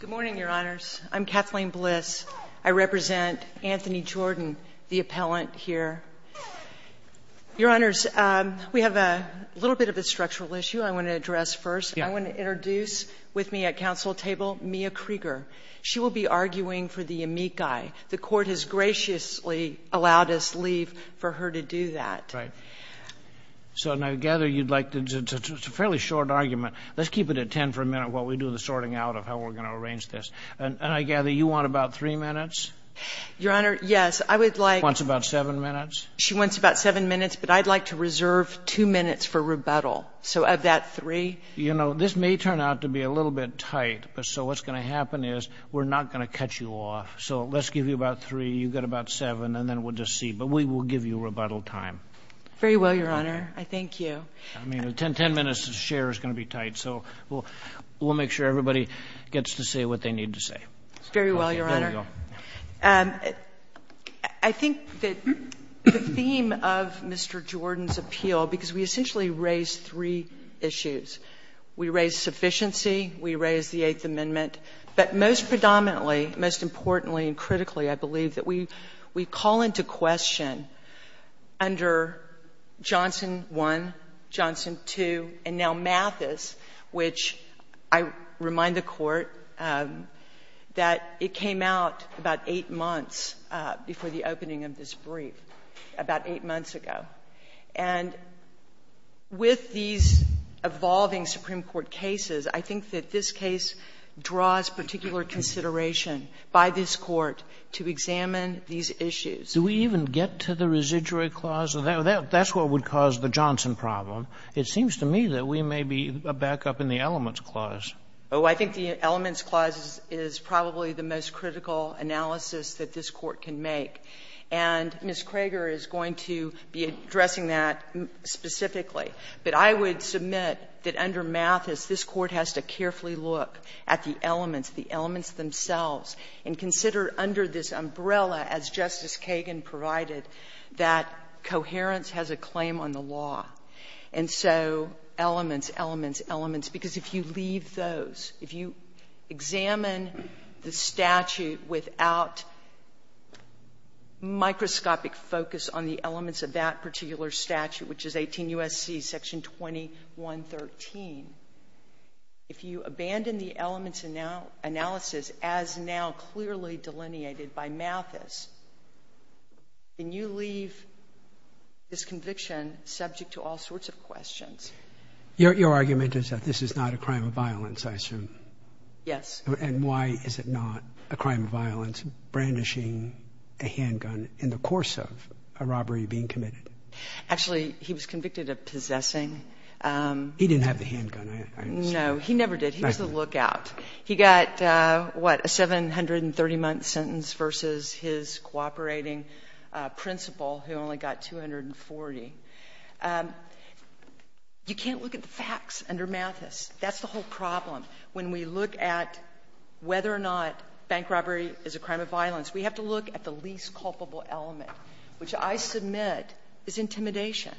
Good morning, Your Honors. I'm Kathleen Bliss. I represent Anthony Jordan, the appellant here. Your Honors, we have a little bit of a structural issue I want to address first. I want to introduce with me at Council table Mia Krieger. She will be arguing for the amici. The Court has graciously allowed us leave for her to do that. Right. So I gather you'd like to, it's a fairly short argument. Let's keep it at 10 for a minute while we do the sorting out of how we're going to arrange this. And I gather you want about 3 minutes? Your Honor, yes. I would like... She wants about 7 minutes? She wants about 7 minutes, but I'd like to reserve 2 minutes for rebuttal. So of that 3... You know, this may turn out to be a little bit tight, but so what's going to happen is we're not going to cut you off. So let's give you about 3, you get about 7, and then we'll just see. But we will give you rebuttal time. Very well, Your Honor. I thank you. I mean, 10 minutes' share is going to be tight, so we'll make sure everybody gets to say what they need to say. Very well, Your Honor. There you go. I think that the theme of Mr. Jordan's appeal, because we essentially raised three issues, we raised sufficiency, we raised the Eighth Amendment, but most predominantly, most importantly and critically, I believe, that we call into question under Johnson I, Johnson II, and now Mathis, which I remind the Court that it came out about 8 months before the opening of this brief, about 8 months ago. And with these evolving Supreme Court cases, I think that this case draws particular consideration by this Court to examine these issues. Do we even get to the residuary clause? That's what would cause the Johnson problem. It seems to me that we may be back up in the elements clause. Oh, I think the elements clause is probably the most critical analysis that this Court can make. And Ms. Crager is going to be addressing that specifically. But I would submit that under Mathis, this Court has to carefully look at the elements, the elements themselves, and consider under this umbrella, as Justice Kagan provided, that coherence has a claim on the law. And so elements, elements, elements. Because if you leave those, if you examine the statute without microscopic focus on the elements of that particular statute, which is 18 U.S.C. section 2113, analysis as now clearly delineated by Mathis, then you leave this conviction subject to all sorts of questions. Your argument is that this is not a crime of violence, I assume. Yes. And why is it not a crime of violence, brandishing a handgun in the course of a robbery being committed? Actually, he was convicted of possessing. He didn't have the handgun, I understand. No. He never did. He was the lookout. He got, what, a 730-month sentence versus his cooperating principal, who only got 240. You can't look at the facts under Mathis. That's the whole problem. When we look at whether or not bank robbery is a crime of violence, we have to look at the least culpable element, which I submit is intimidation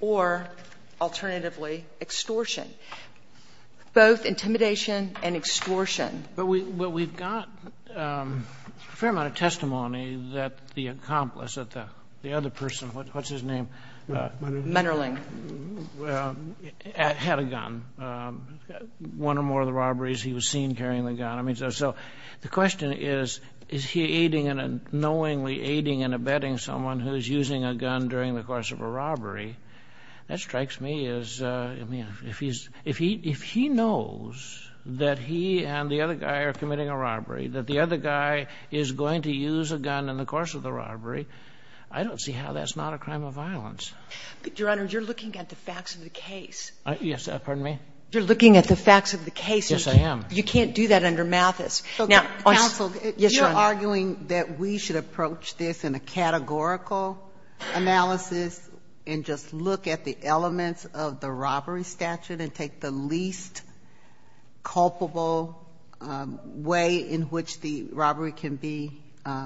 or, alternatively, extortion. Both intimidation and extortion. But we've got a fair amount of testimony that the accomplice, that the other person, what's his name? Menderling. Menderling had a gun. One or more of the robberies, he was seen carrying the gun. I mean, so the question is, is he aiding and knowingly aiding and abetting someone who's using a gun during the course of a robbery? That strikes me as, I mean, if he's – if he knows that he and the other guy are committing a robbery, that the other guy is going to use a gun in the course of the robbery, I don't see how that's not a crime of violence. Your Honor, you're looking at the facts of the case. Yes. Pardon me? You're looking at the facts of the case. Yes, I am. You can't do that under Mathis. Counsel, you're arguing that we should approach this in a categorical analysis and just look at the elements of the robbery statute and take the least culpable way in which the robbery can be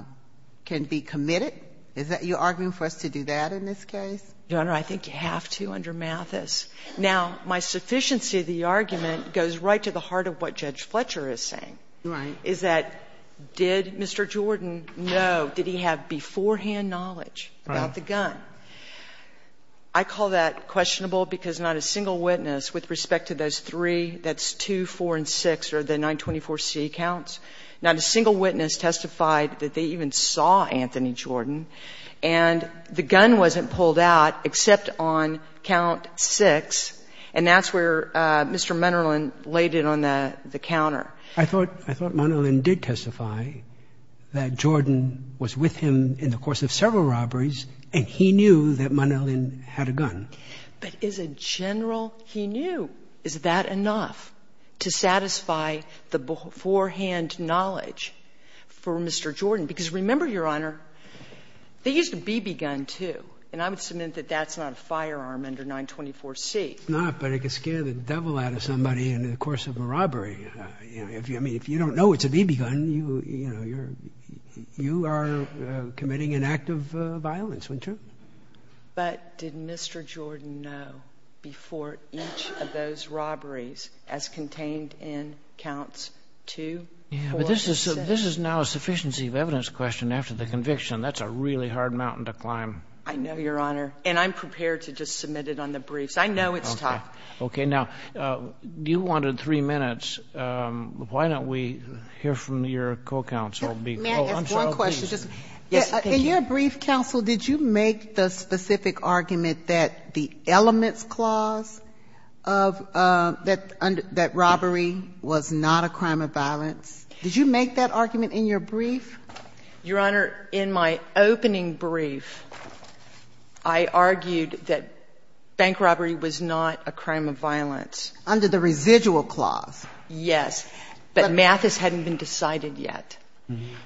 – can be committed? Is that your argument for us to do that in this case? Your Honor, I think you have to under Mathis. Now, my sufficiency of the argument goes right to the heart of what Judge Fletcher is saying. Right. Is that, did Mr. Jordan know, did he have beforehand knowledge about the gun? I call that questionable because not a single witness with respect to those three, that's 2, 4, and 6 are the 924C counts, not a single witness testified that they even saw Anthony Jordan. And the gun wasn't pulled out except on count 6, and that's where Mr. Munerlin laid it on the counter. I thought – I thought Munerlin did testify that Jordan was with him in the course of several robberies, and he knew that Munerlin had a gun. But as a general, he knew. Is that enough to satisfy the beforehand knowledge for Mr. Jordan? Because remember, Your Honor, they used a BB gun, too, and I would submit that that's not a firearm under 924C. It's not, but it could scare the devil out of somebody in the course of a robbery. I mean, if you don't know it's a BB gun, you know, you are committing an act of violence, aren't you? But did Mr. Jordan know before each of those robberies, as contained in counts 2, 4, and 6? Yeah, but this is now a sufficiency of evidence question after the conviction. That's a really hard mountain to climb. I know, Your Honor, and I'm prepared to just submit it on the briefs. I know it's tough. Okay. Now, you wanted three minutes. Why don't we hear from your co-counsel? I'm sorry. One question. In your brief, counsel, did you make the specific argument that the elements clause of that robbery was not a crime of violence? Did you make that argument in your brief? Your Honor, in my opening brief, I argued that bank robbery was not a crime of violence. Under the residual clause? Yes. But Mathis hadn't been decided yet.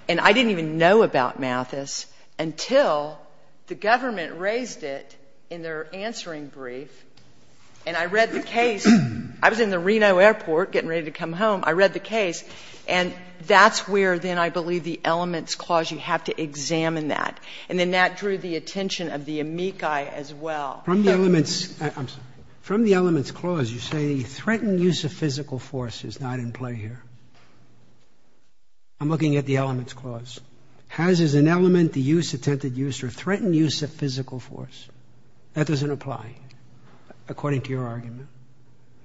And I didn't even know about Mathis until the government raised it in their answering brief, and I read the case. I was in the Reno airport getting ready to come home. I read the case. And that's where, then, I believe the elements clause, you have to examine that. And then that drew the attention of the amici as well. From the elements clause, you say threatened use of physical force is not in play here. I'm looking at the elements clause. Has as an element the use attempted use or threatened use of physical force. That doesn't apply, according to your argument.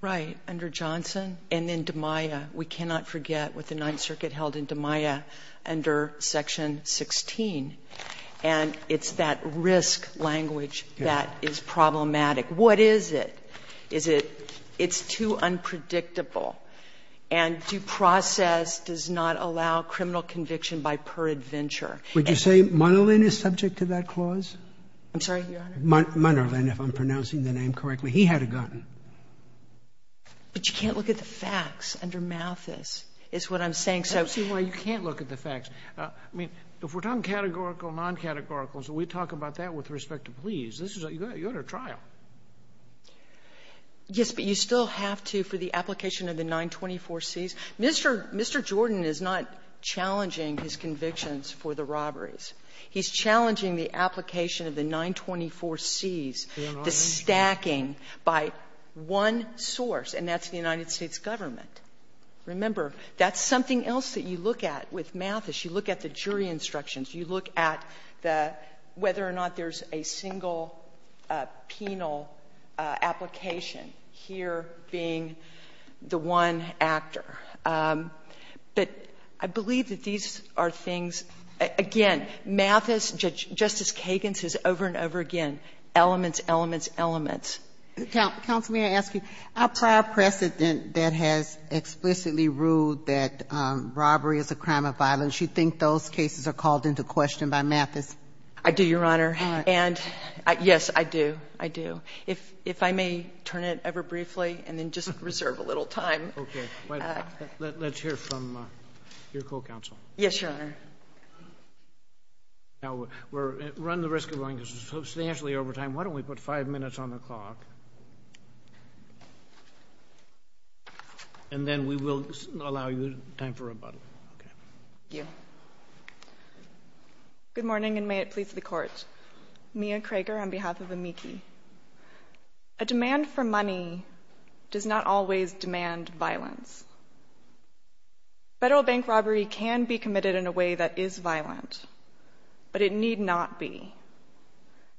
Right. Under Johnson and then DeMaia, we cannot forget what the Ninth Circuit held in DeMaia under Section 16. And it's that risk language that is problematic. What is it? Is it it's too unpredictable? And due process does not allow criminal conviction by per adventure. Would you say Munnerlin is subject to that clause? I'm sorry, Your Honor? Munnerlin, if I'm pronouncing the name correctly. He had it gotten. But you can't look at the facts under Mathis, is what I'm saying. Let's see why you can't look at the facts. I mean, if we're talking categorical, non-categorical, and we talk about that with respect to pleas, this is a you're at a trial. Yes, but you still have to for the application of the 924Cs. Mr. Jordan is not challenging his convictions for the robberies. He's challenging the application of the 924Cs, the stacking by one source, and that's the United States government. Remember, that's something else that you look at with Mathis. You look at the jury instructions. You look at the whether or not there's a single penal application here being the one actor. But I believe that these are things, again, Mathis, Justice Kagan says over and over again, elements, elements, elements. Counsel, may I ask you, a prior precedent that has explicitly ruled that robbery is a crime of violence, you think those cases are called into question by Mathis? I do, Your Honor. And yes, I do. I do. If I may turn it ever briefly and then just reserve a little time. Okay. Let's hear from your co-counsel. Yes, Your Honor. Now, we're running the risk of going substantially over time. Why don't we put five minutes on the clock, and then we will allow you time for rebuttal. Thank you. Good morning, and may it please the Court. Mia Crager on behalf of AMICI. A demand for money does not always demand violence. Federal bank robbery can be committed in a way that is violent, but it need not be.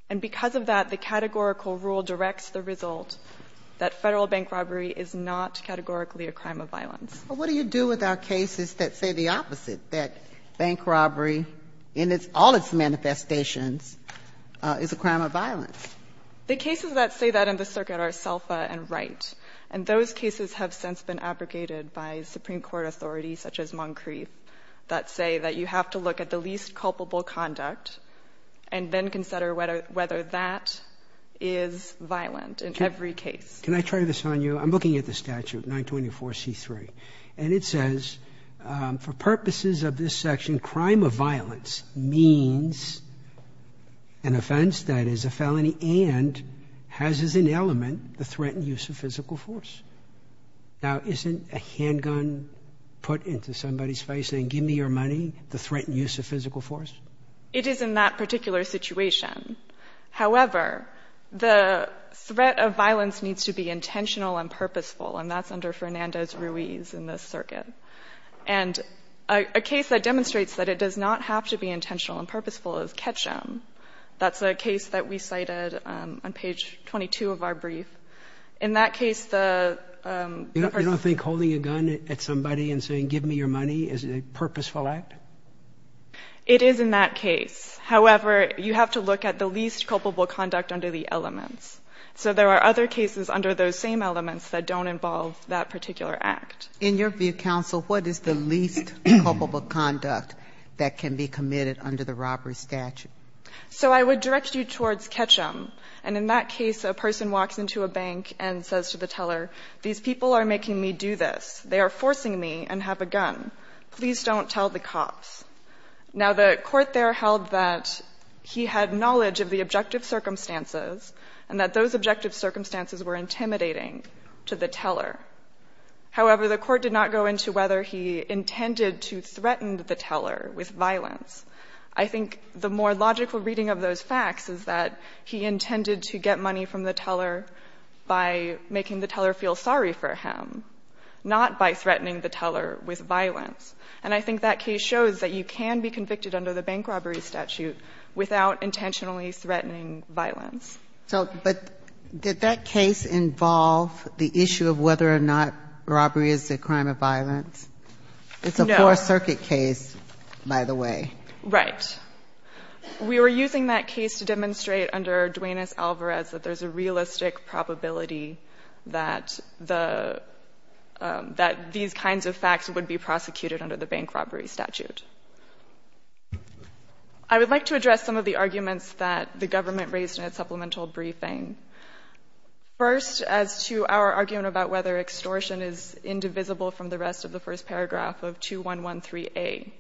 And because of that, the categorical rule directs the result that Federal bank robbery is not categorically a crime of violence. But what do you do with our cases that say the opposite, that bank robbery in all its manifestations is a crime of violence? The cases that say that in the circuit are SELFA and Wright. And those cases have since been abrogated by Supreme Court authorities such as Moncrief that say that you have to look at the least culpable conduct and then consider whether that is violent in every case. Can I try this on you? I'm looking at the statute, 924C3, and it says, for purposes of this section, crime of violence means an offense that is a felony and has as an element the threat and use of physical force. Now, isn't a handgun put into somebody's face saying, give me your money, the threat and use of physical force? It is in that particular situation. However, the threat of violence needs to be intentional and purposeful, and that's under Fernandez-Ruiz in this circuit. And a case that demonstrates that it does not have to be intentional and purposeful is Ketchum. That's a case that we cited on page 22 of our brief. In that case, the person ---- You don't think holding a gun at somebody and saying, give me your money is a purposeful act? It is in that case. However, you have to look at the least culpable conduct under the elements. So there are other cases under those same elements that don't involve that particular act. In your view, counsel, what is the least culpable conduct that can be committed under the robbery statute? So I would direct you towards Ketchum. And in that case, a person walks into a bank and says to the teller, these people are making me do this. They are forcing me and have a gun. Please don't tell the cops. Now, the court there held that he had knowledge of the objective circumstances and that those objective circumstances were intimidating to the teller. However, the court did not go into whether he intended to threaten the teller with violence. I think the more logical reading of those facts is that he intended to get money from the teller by making the teller feel sorry for him, not by threatening the teller with violence. And I think that case shows that you can be convicted under the bank robbery statute without intentionally threatening violence. So, but did that case involve the issue of whether or not robbery is a crime of violence? No. It's a Fourth Circuit case, by the way. Right. We were using that case to demonstrate under Duenas-Alvarez that there's a realistic probability that the, that these kinds of facts would be prosecuted under the bank robbery statute. I would like to address some of the arguments that the government raised in its supplemental briefing. First, as to our argument about whether extortion is indivisible from the rest of the first paragraph of 2113A.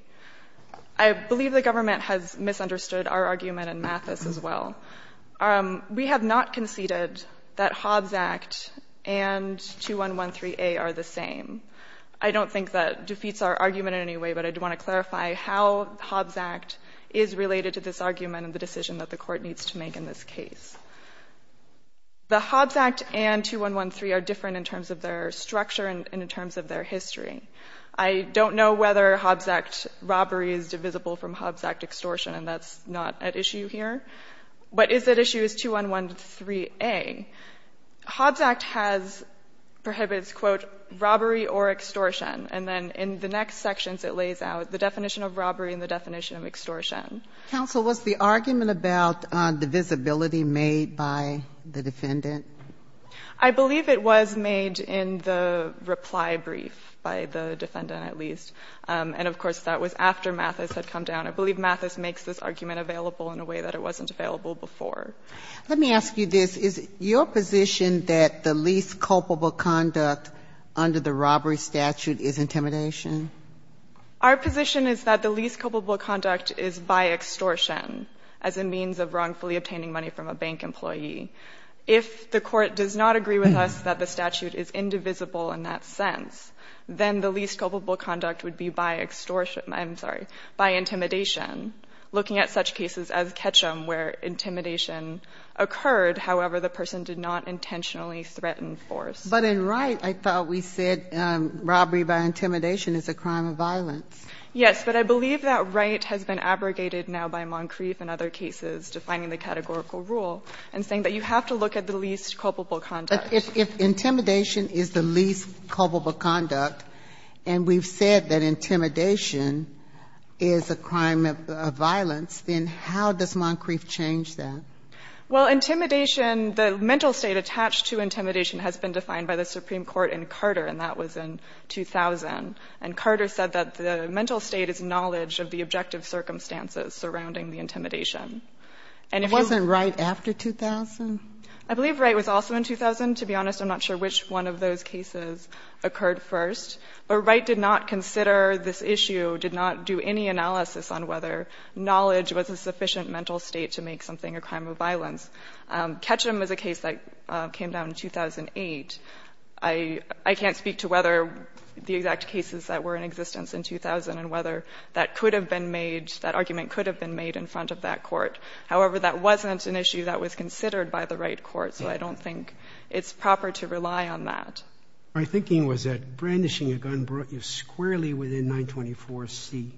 I believe the government has misunderstood our argument in Mathis as well. We have not conceded that Hobbs Act and 2113A are the same. I don't think that defeats our argument in any way, but I do want to clarify how Hobbs Act is related to this argument and the decision that the Court needs to make in this case. The Hobbs Act and 2113 are different in terms of their structure and in terms of their history. I don't know whether Hobbs Act robbery is divisible from Hobbs Act extortion, and that's not at issue here. What is at issue is 2113A. Hobbs Act has, prohibits, quote, robbery or extortion. And then in the next sections, it lays out the definition of robbery and the definition of extortion. Ginsburg-Coper, counsel, was the argument about divisibility made by the defendant? I believe it was made in the reply brief by the defendant, at least. And of course, that was after Mathis had come down. I believe Mathis makes this argument available in a way that it wasn't available before. Let me ask you this. Is your position that the least culpable conduct under the robbery statute is intimidation? Our position is that the least culpable conduct is by extortion as a means of wrongfully obtaining money from a bank employee. If the Court does not agree with us that the statute is indivisible in that sense, then the least culpable conduct would be by extortion — I'm sorry, by intimidation, looking at such cases as Ketchum where intimidation occurred, however, the person did not intentionally threaten force. But in Wright, I thought we said robbery by intimidation is a crime of violence. Yes, but I believe that Wright has been abrogated now by Moncrief and other cases defining the categorical rule and saying that you have to look at the least culpable conduct. But if intimidation is the least culpable conduct, and we've said that intimidation is a crime of violence, then how does Moncrief change that? Well, intimidation, the mental state attached to intimidation has been defined by the Supreme Court in Carter, and that was in 2000. And Carter said that the mental state is knowledge of the objective circumstances surrounding the intimidation. And if you would... Sotomayor, was it Wright after 2000? I believe Wright was also in 2000. To be honest, I'm not sure which one of those cases occurred first. But Wright did not consider this issue, did not do any analysis on whether knowledge was a sufficient mental state to make something a crime of violence. Ketchum is a case that came down in 2008. I can't speak to whether the exact cases that were in existence in 2000 and whether that could have been made, that argument could have been made in front of that court. However, that wasn't an issue that was considered by the Wright court, so I don't think it's proper to rely on that. My thinking was that brandishing a gun brought you squarely within 924c3a,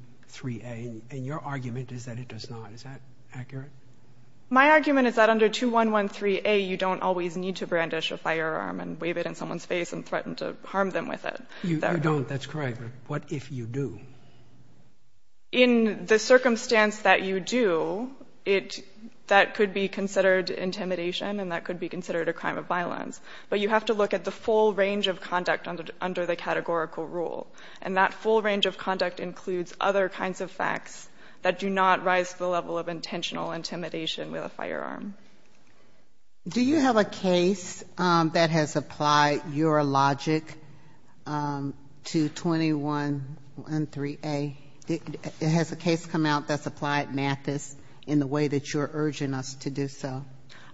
and your argument is that it does not. Is that accurate? My argument is that under 2113a, you don't always need to brandish a firearm and wave it in someone's face and threaten to harm them with it. You don't. That's correct. What if you do? In the circumstance that you do, that could be considered intimidation and that could be considered a crime of violence. But you have to look at the full range of conduct under the categorical rule. And that full range of conduct includes other kinds of facts that do not rise to the level of intentional intimidation with a firearm. Do you have a case that has applied your logic to 2113a? Has a case come out that's applied Mathis in the way that you're urging us to do so?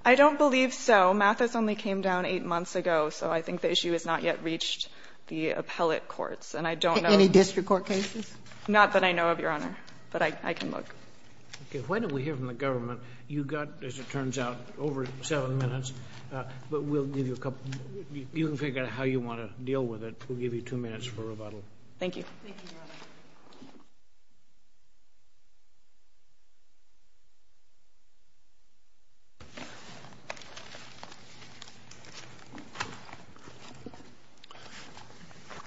I don't believe so. Mathis only came down 8 months ago, so I think the issue has not yet reached the appellate courts. And I don't know. Any district court cases? Not that I know of, Your Honor. But I can look. Okay, why don't we hear from the government? You've got, as it turns out, over seven minutes. But we'll give you a couple, you can figure out how you want to deal with it. We'll give you two minutes for rebuttal. Thank you. Thank you,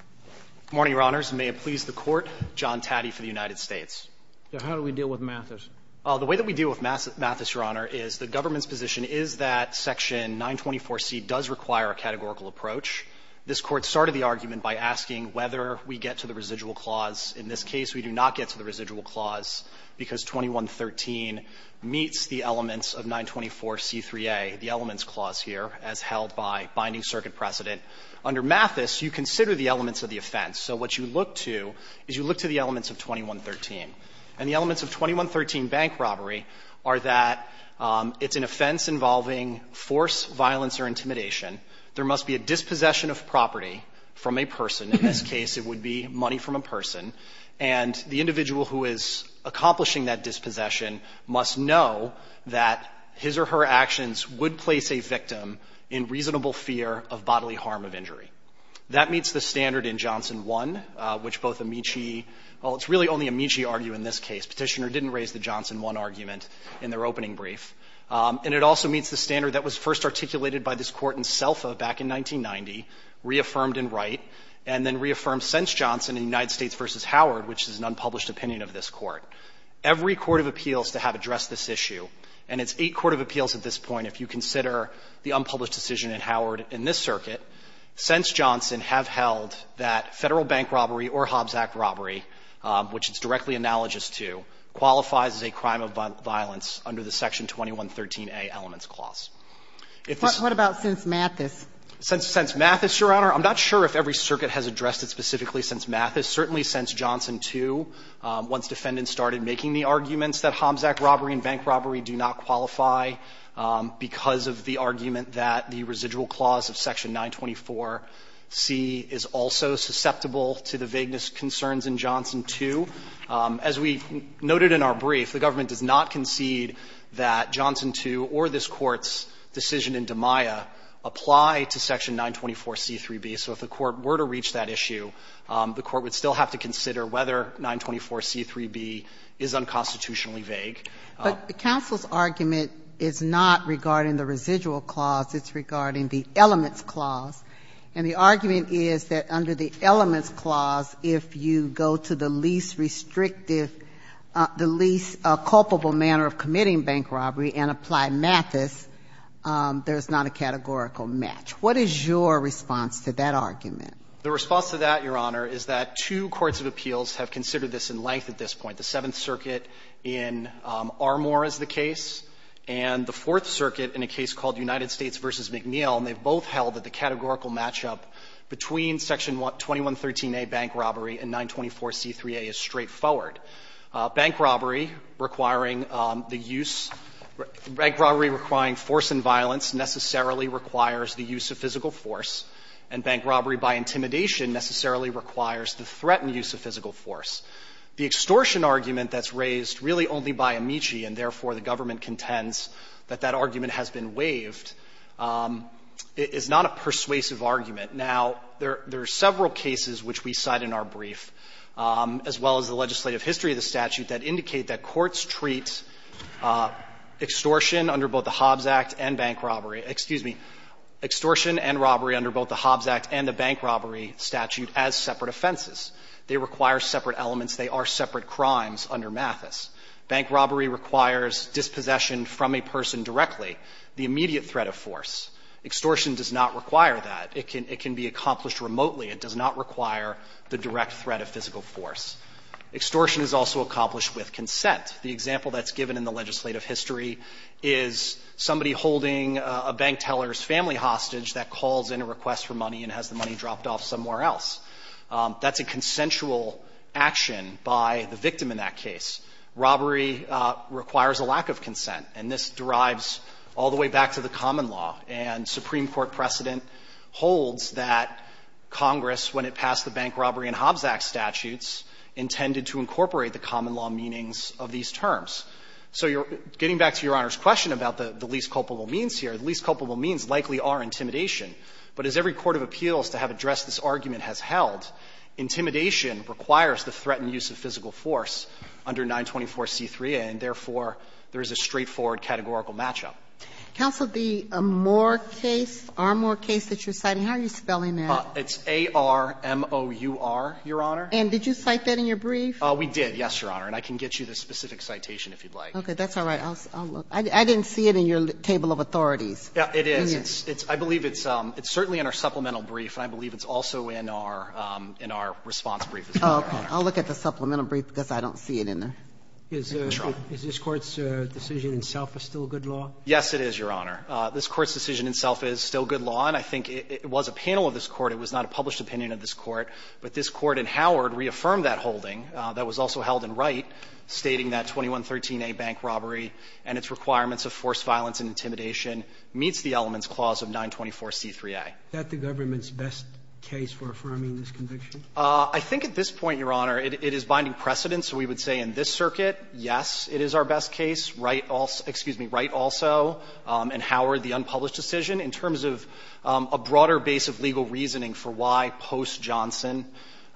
Your Honor. Morning, Your Honors. May it please the court. John Taddy for the United States. How do we deal with Mathis? The way that we deal with Mathis, Your Honor, is the government's position is that Section 924C does require a categorical approach. This Court started the argument by asking whether we get to the residual clause. In this case, we do not get to the residual clause because 2113 meets the elements of 924C3A, the elements clause here, as held by binding circuit precedent. Under Mathis, you consider the elements of the offense. So what you look to is you look to the elements of 2113. And the elements of 2113 bank robbery are that it's an offense involving force, violence, or intimidation. There must be a dispossession of property from a person. In this case, it would be money from a person. And the individual who is accomplishing that dispossession must know that his or her actions would place a victim in reasonable fear of bodily harm of injury. That meets the standard in Johnson 1, which both Amici, well, it's really only Amici argue in this case. Petitioner didn't raise the Johnson 1 argument in their opening brief. And it also meets the standard that was first articulated by this Court in SELFA back in 1990, reaffirmed in Wright, and then reaffirmed since Johnson in United States v. Howard, which is an unpublished opinion of this Court. Every court of appeals to have addressed this issue, and it's eight court of appeals at this point, if you consider the unpublished decision in Howard in this circuit, since Johnson have held that Federal bank robbery or Hobbs Act robbery, which it's directly analogous to, qualifies as a crime of violence under the Section 2113a elements clause. If this ---- Ginsburg. What about since Mathis? Since Mathis, Your Honor, I'm not sure if every circuit has addressed it specifically since Mathis. Certainly since Johnson 2, once defendants started making the arguments that Hobbs Act robbery and bank robbery do not qualify because of the argument that the residual clause of Section 924C is also susceptible to the vagueness concerns in Johnson 2, as we noted in our brief, the government does not concede that Johnson 2 or this Court's decision in DiMaia apply to Section 924C3b. So if the Court were to reach that issue, the Court would still have to consider whether 924C3b is unconstitutionally vague. But the counsel's argument is not regarding the residual clause. It's regarding the elements clause. And the argument is that under the elements clause, if you go to the least restrictive ---- the least culpable manner of committing bank robbery and apply Mathis, there's not a categorical match. What is your response to that argument? The response to that, Your Honor, is that two courts of appeals have considered this in length at this point. The Seventh Circuit in Armour is the case, and the Fourth Circuit in a case called United States v. McNeil, and they've both held that the categorical matchup between Section 2113a, bank robbery, and 924C3a is straightforward. Bank robbery requiring the use of the use of force and violence necessarily requires the use of physical force, and bank robbery by intimidation necessarily requires the threatened use of physical force. The extortion argument that's raised really only by Amici, and therefore the government contends that that argument has been waived, is not a persuasive argument. Now, there are several cases which we cite in our brief, as well as the legislative history of the statute, that indicate that courts treat extortion under both the Hobbs Act and bank robbery ---- excuse me, extortion and robbery under both the Hobbs Act and the bank robbery statute as separate offenses. They require separate elements. They are separate crimes under Mathis. Bank robbery requires dispossession from a person directly, the immediate threat of force. Extortion does not require that. It can be accomplished remotely. It does not require the direct threat of physical force. Extortion is also accomplished with consent. The example that's given in the legislative history is somebody holding a bank teller's family hostage that calls in a request for money and has the money dropped off somewhere else. That's a consensual action by the victim in that case. Robbery requires a lack of consent. And this derives all the way back to the common law. And Supreme Court precedent holds that Congress, when it passed the bank robbery and Hobbs Act statutes, intended to incorporate the common law meanings of these terms. So getting back to Your Honor's question about the least culpable means here, the least culpable means likely are intimidation. But as every court of appeals to have addressed this argument has held, intimidation requires the threat and use of physical force under 924c3, and therefore, there is a straightforward categorical matchup. Counsel, the Moore case, R. Moore case that you're citing, how are you spelling that? It's A-R-M-O-U-R, Your Honor. And did you cite that in your brief? We did, yes, Your Honor. And I can get you the specific citation if you'd like. Okay. That's all right. I'll look. I didn't see it in your table of authorities. It is. I believe it's certainly in our supplemental brief, and I believe it's also in our response brief as well, Your Honor. I'll look at the supplemental brief because I don't see it in there. Is this Court's decision itself still good law? Yes, it is, Your Honor. This Court's decision itself is still good law, and I think it was a panel of this Court. It was not a published opinion of this Court. But this Court in Howard reaffirmed that holding that was also held in Wright, stating that 2113a, bank robbery and its requirements of forced violence and intimidation meets the elements clause of 924c3a. Is that the government's best case for affirming this conviction? I think at this point, Your Honor, it is binding precedent. So we would say in this circuit, yes, it is our best case. Wright also — excuse me, Wright also and Howard, the unpublished decision. In terms of a broader base of legal reasoning for why post Johnson,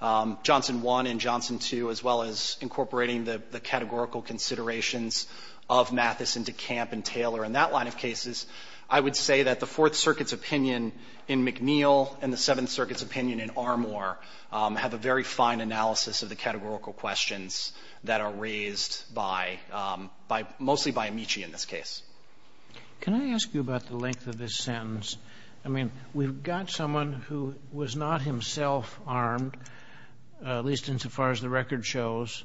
Johnson 1 and Johnson 2, as well as incorporating the categorical considerationss of Mathis and DeCamp and Taylor in that line of cases, I would say that the Fourth Circuit's opinion in McNeil and the Seventh Circuit's opinion in Armour have a very fine analysis of the categorical questions that are raised by — mostly by Amici in this case. Can I ask you about the length of this sentence? I mean, we've got someone who was not himself armed, at least insofar as the record shows,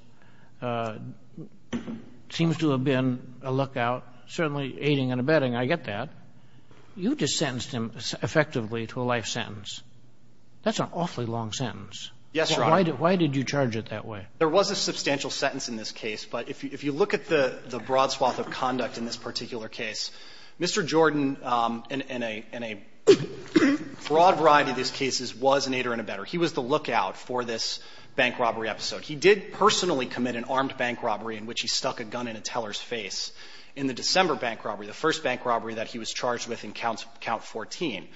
seems to have been a lookout, certainly aiding and abetting, I get that. You just sentenced him effectively to a life sentence. That's an awfully long sentence. Yes, Your Honor. Why did you charge it that way? There was a substantial sentence in this case, but if you look at the broad swath of conduct in this particular case, Mr. Jordan, in a broad variety of these cases, was an aider and abetter. He was the lookout for this bank robbery episode. He did personally commit an armed bank robbery in which he stuck a gun in a teller's face in the December bank robbery, the first bank robbery that he was charged with in Count 14.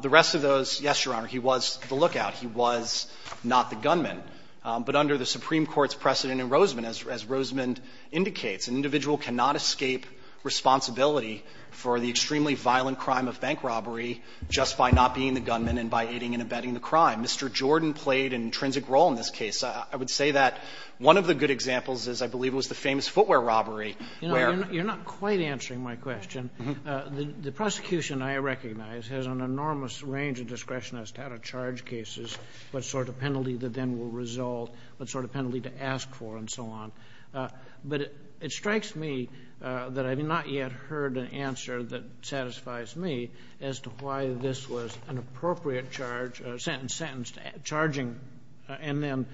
The rest of those, yes, Your Honor, he was the lookout. He was not the gunman. But under the Supreme Court's precedent in Rosamond, as Rosamond indicates, an individual cannot escape responsibility for the extremely violent crime of bank robbery just by not being the gunman and by aiding and abetting the crime. Mr. Jordan played an intrinsic role in this case. I would say that one of the good examples is I believe it was the famous footwear robbery where you're not quite answering my question. The prosecution I recognize has an enormous range of discretion as to how to charge cases, what sort of penalty that then will result, what sort of penalty to ask for, and so on. But it strikes me that I've not yet heard an answer that satisfies me as to why this was an appropriate charge, sentencing, charging, and then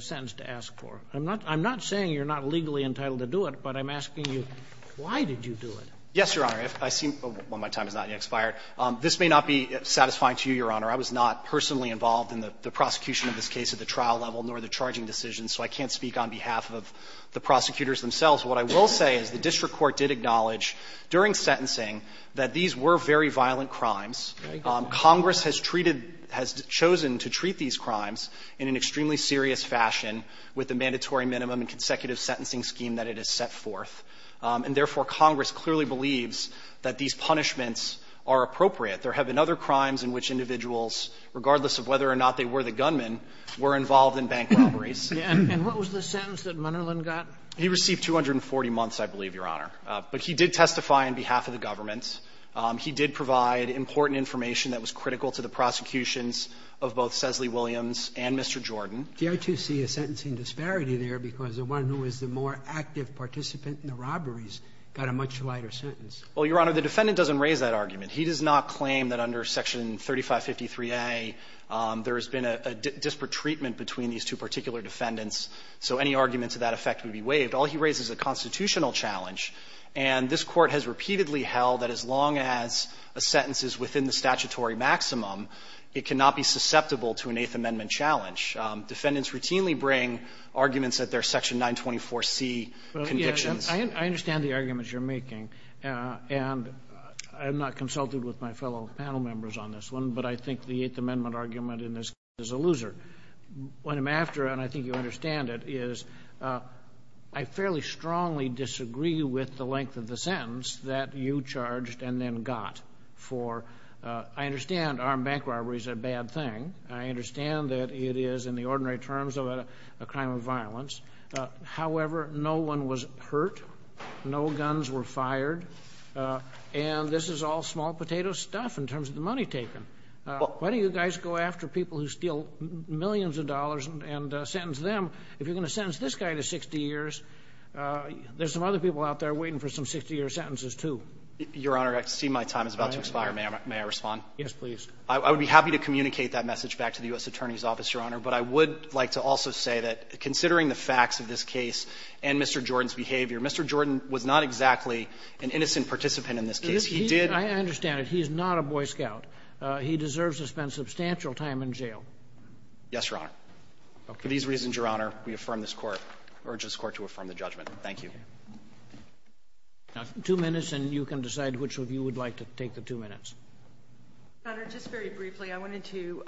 sentenced to ask for. I'm not saying you're not legally entitled to do it, but I'm asking you, why did you do it? Yes, Your Honor. I see my time has not yet expired. This may not be satisfying to you, Your Honor. I was not personally involved in the prosecution of this case at the trial level nor the charging decision, so I can't speak on behalf of the prosecutors themselves. What I will say is the district court did acknowledge during sentencing that these were very violent crimes. Congress has treated – has chosen to treat these crimes in an extremely serious fashion with the mandatory minimum and consecutive sentencing scheme that it has set forth. And therefore, Congress clearly believes that these punishments are appropriate. There have been other crimes in which individuals, regardless of whether or not they were the gunman, were involved in bank robberies. And what was the sentence that Munderland got? He received 240 months, I believe, Your Honor. But he did testify on behalf of the government. He did provide important information that was critical to the prosecutions of both Sesley Williams and Mr. Jordan. Do you see a sentencing disparity there because the one who was the more active participant in the robberies got a much lighter sentence? Well, Your Honor, the defendant doesn't raise that argument. He does not claim that under Section 3553a, there has been a disparate treatment between these two particular defendants. So any argument to that effect would be waived. All he raises is a constitutional challenge. And this Court has repeatedly held that as long as a sentence is within the statutory maximum, it cannot be susceptible to an Eighth Amendment challenge. Defendants routinely bring arguments that they're Section 924C convictions. I understand the arguments you're making. And I have not consulted with my fellow panel members on this one, but I think the Eighth Amendment argument in this case is a loser. What I'm after, and I think you understand it, is I fairly strongly disagree with the length of the sentence that you charged and then got for — I understand armed bank robberies are a bad thing. I understand that it is, in the ordinary terms, a crime of violence. However, no one was hurt, no guns were fired, and this is all small potato stuff in terms of the money taken. Why do you guys go after people who steal millions of dollars and sentence them if you're going to sentence this guy to 60 years? There's some other people out there waiting for some 60-year sentences, too. Your Honor, I see my time is about to expire. May I respond? Yes, please. I would be happy to communicate that message back to the U.S. Attorney's Office, Your Honor. But I would like to also say that considering the facts of this case and Mr. Jordan's behavior, Mr. Jordan was not exactly an innocent participant in this case. He did — I understand it. He is not a Boy Scout. He deserves to spend substantial time in jail. Yes, Your Honor. For these reasons, Your Honor, we affirm this court — urge this court to affirm the judgment. Thank you. Now, two minutes, and you can decide which of you would like to take the two minutes. Your Honor, just very briefly, I wanted to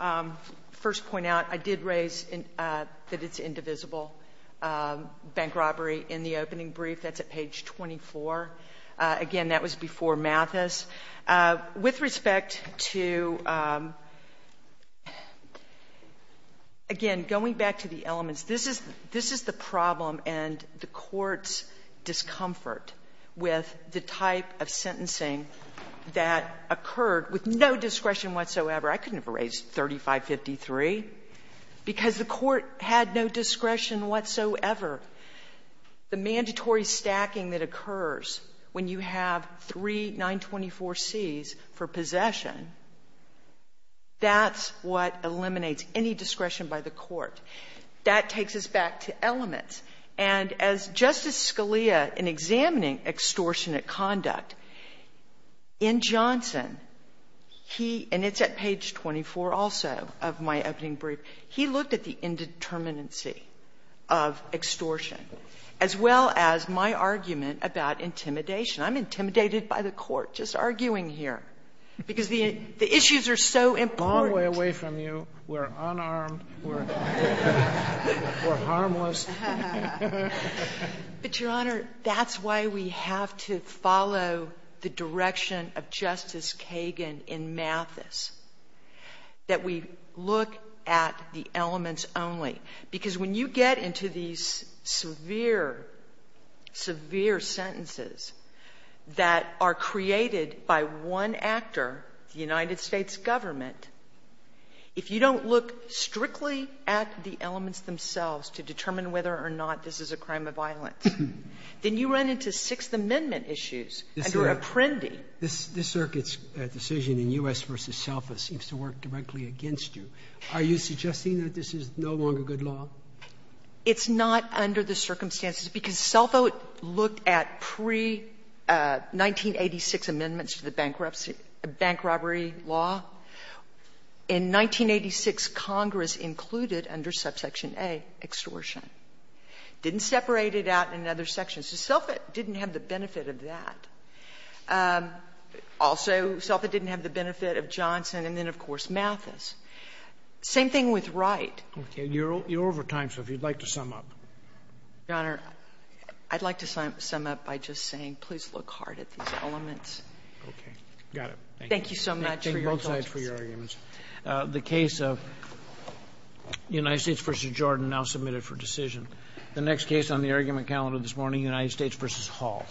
first point out, I did raise that it's indivisible, bank robbery, in the opening brief. That's at page 24. Again, that was before Mathis. With respect to — again, going back to the elements, this is — this is the problem and the Court's discomfort with the type of sentencing that occurred with no discretion whatsoever. I couldn't have raised 3553 because the Court had no discretion whatsoever. However, the mandatory stacking that occurs when you have three 924Cs for possession, that's what eliminates any discretion by the Court. That takes us back to elements. And as Justice Scalia, in examining extortionate conduct, in Johnson, he — and it's at page 24 also of my opening brief — he looked at the indeterminacy of extortion, as well as my argument about intimidation. I'm intimidated by the Court just arguing here, because the issues are so important. Scalia, gone way away from you, we're unarmed, we're harmless. But, Your Honor, that's why we have to follow the direction of Justice Kagan in Mathis, that we look at the elements only. Because when you get into these severe, severe sentences that are created by one actor, the United States government, if you don't look strictly at the elements themselves to determine whether or not this is a crime of violence, then you run into Sixth Amendment issues. And you're apprending. This Circuit's decision in U.S. v. SELFA seems to work directly against you. Are you suggesting that this is no longer good law? It's not under the circumstances, because SELFA looked at pre-1986 amendments to the bankruptcy — bank robbery law. In 1986, Congress included under subsection A extortion. Didn't separate it out in other sections. SELFA didn't have the benefit of that. Also, SELFA didn't have the benefit of Johnson, and then, of course, Mathis. Same thing with Wright. Okay. You're over time, so if you'd like to sum up. Your Honor, I'd like to sum up by just saying, please look hard at these elements. Okay. Got it. Thank you. Thank you so much for your thoughts. Thank both sides for your arguments. The case of United States v. Jordan now submitted for decision. The next case on the argument calendar this morning, United States v. Hall.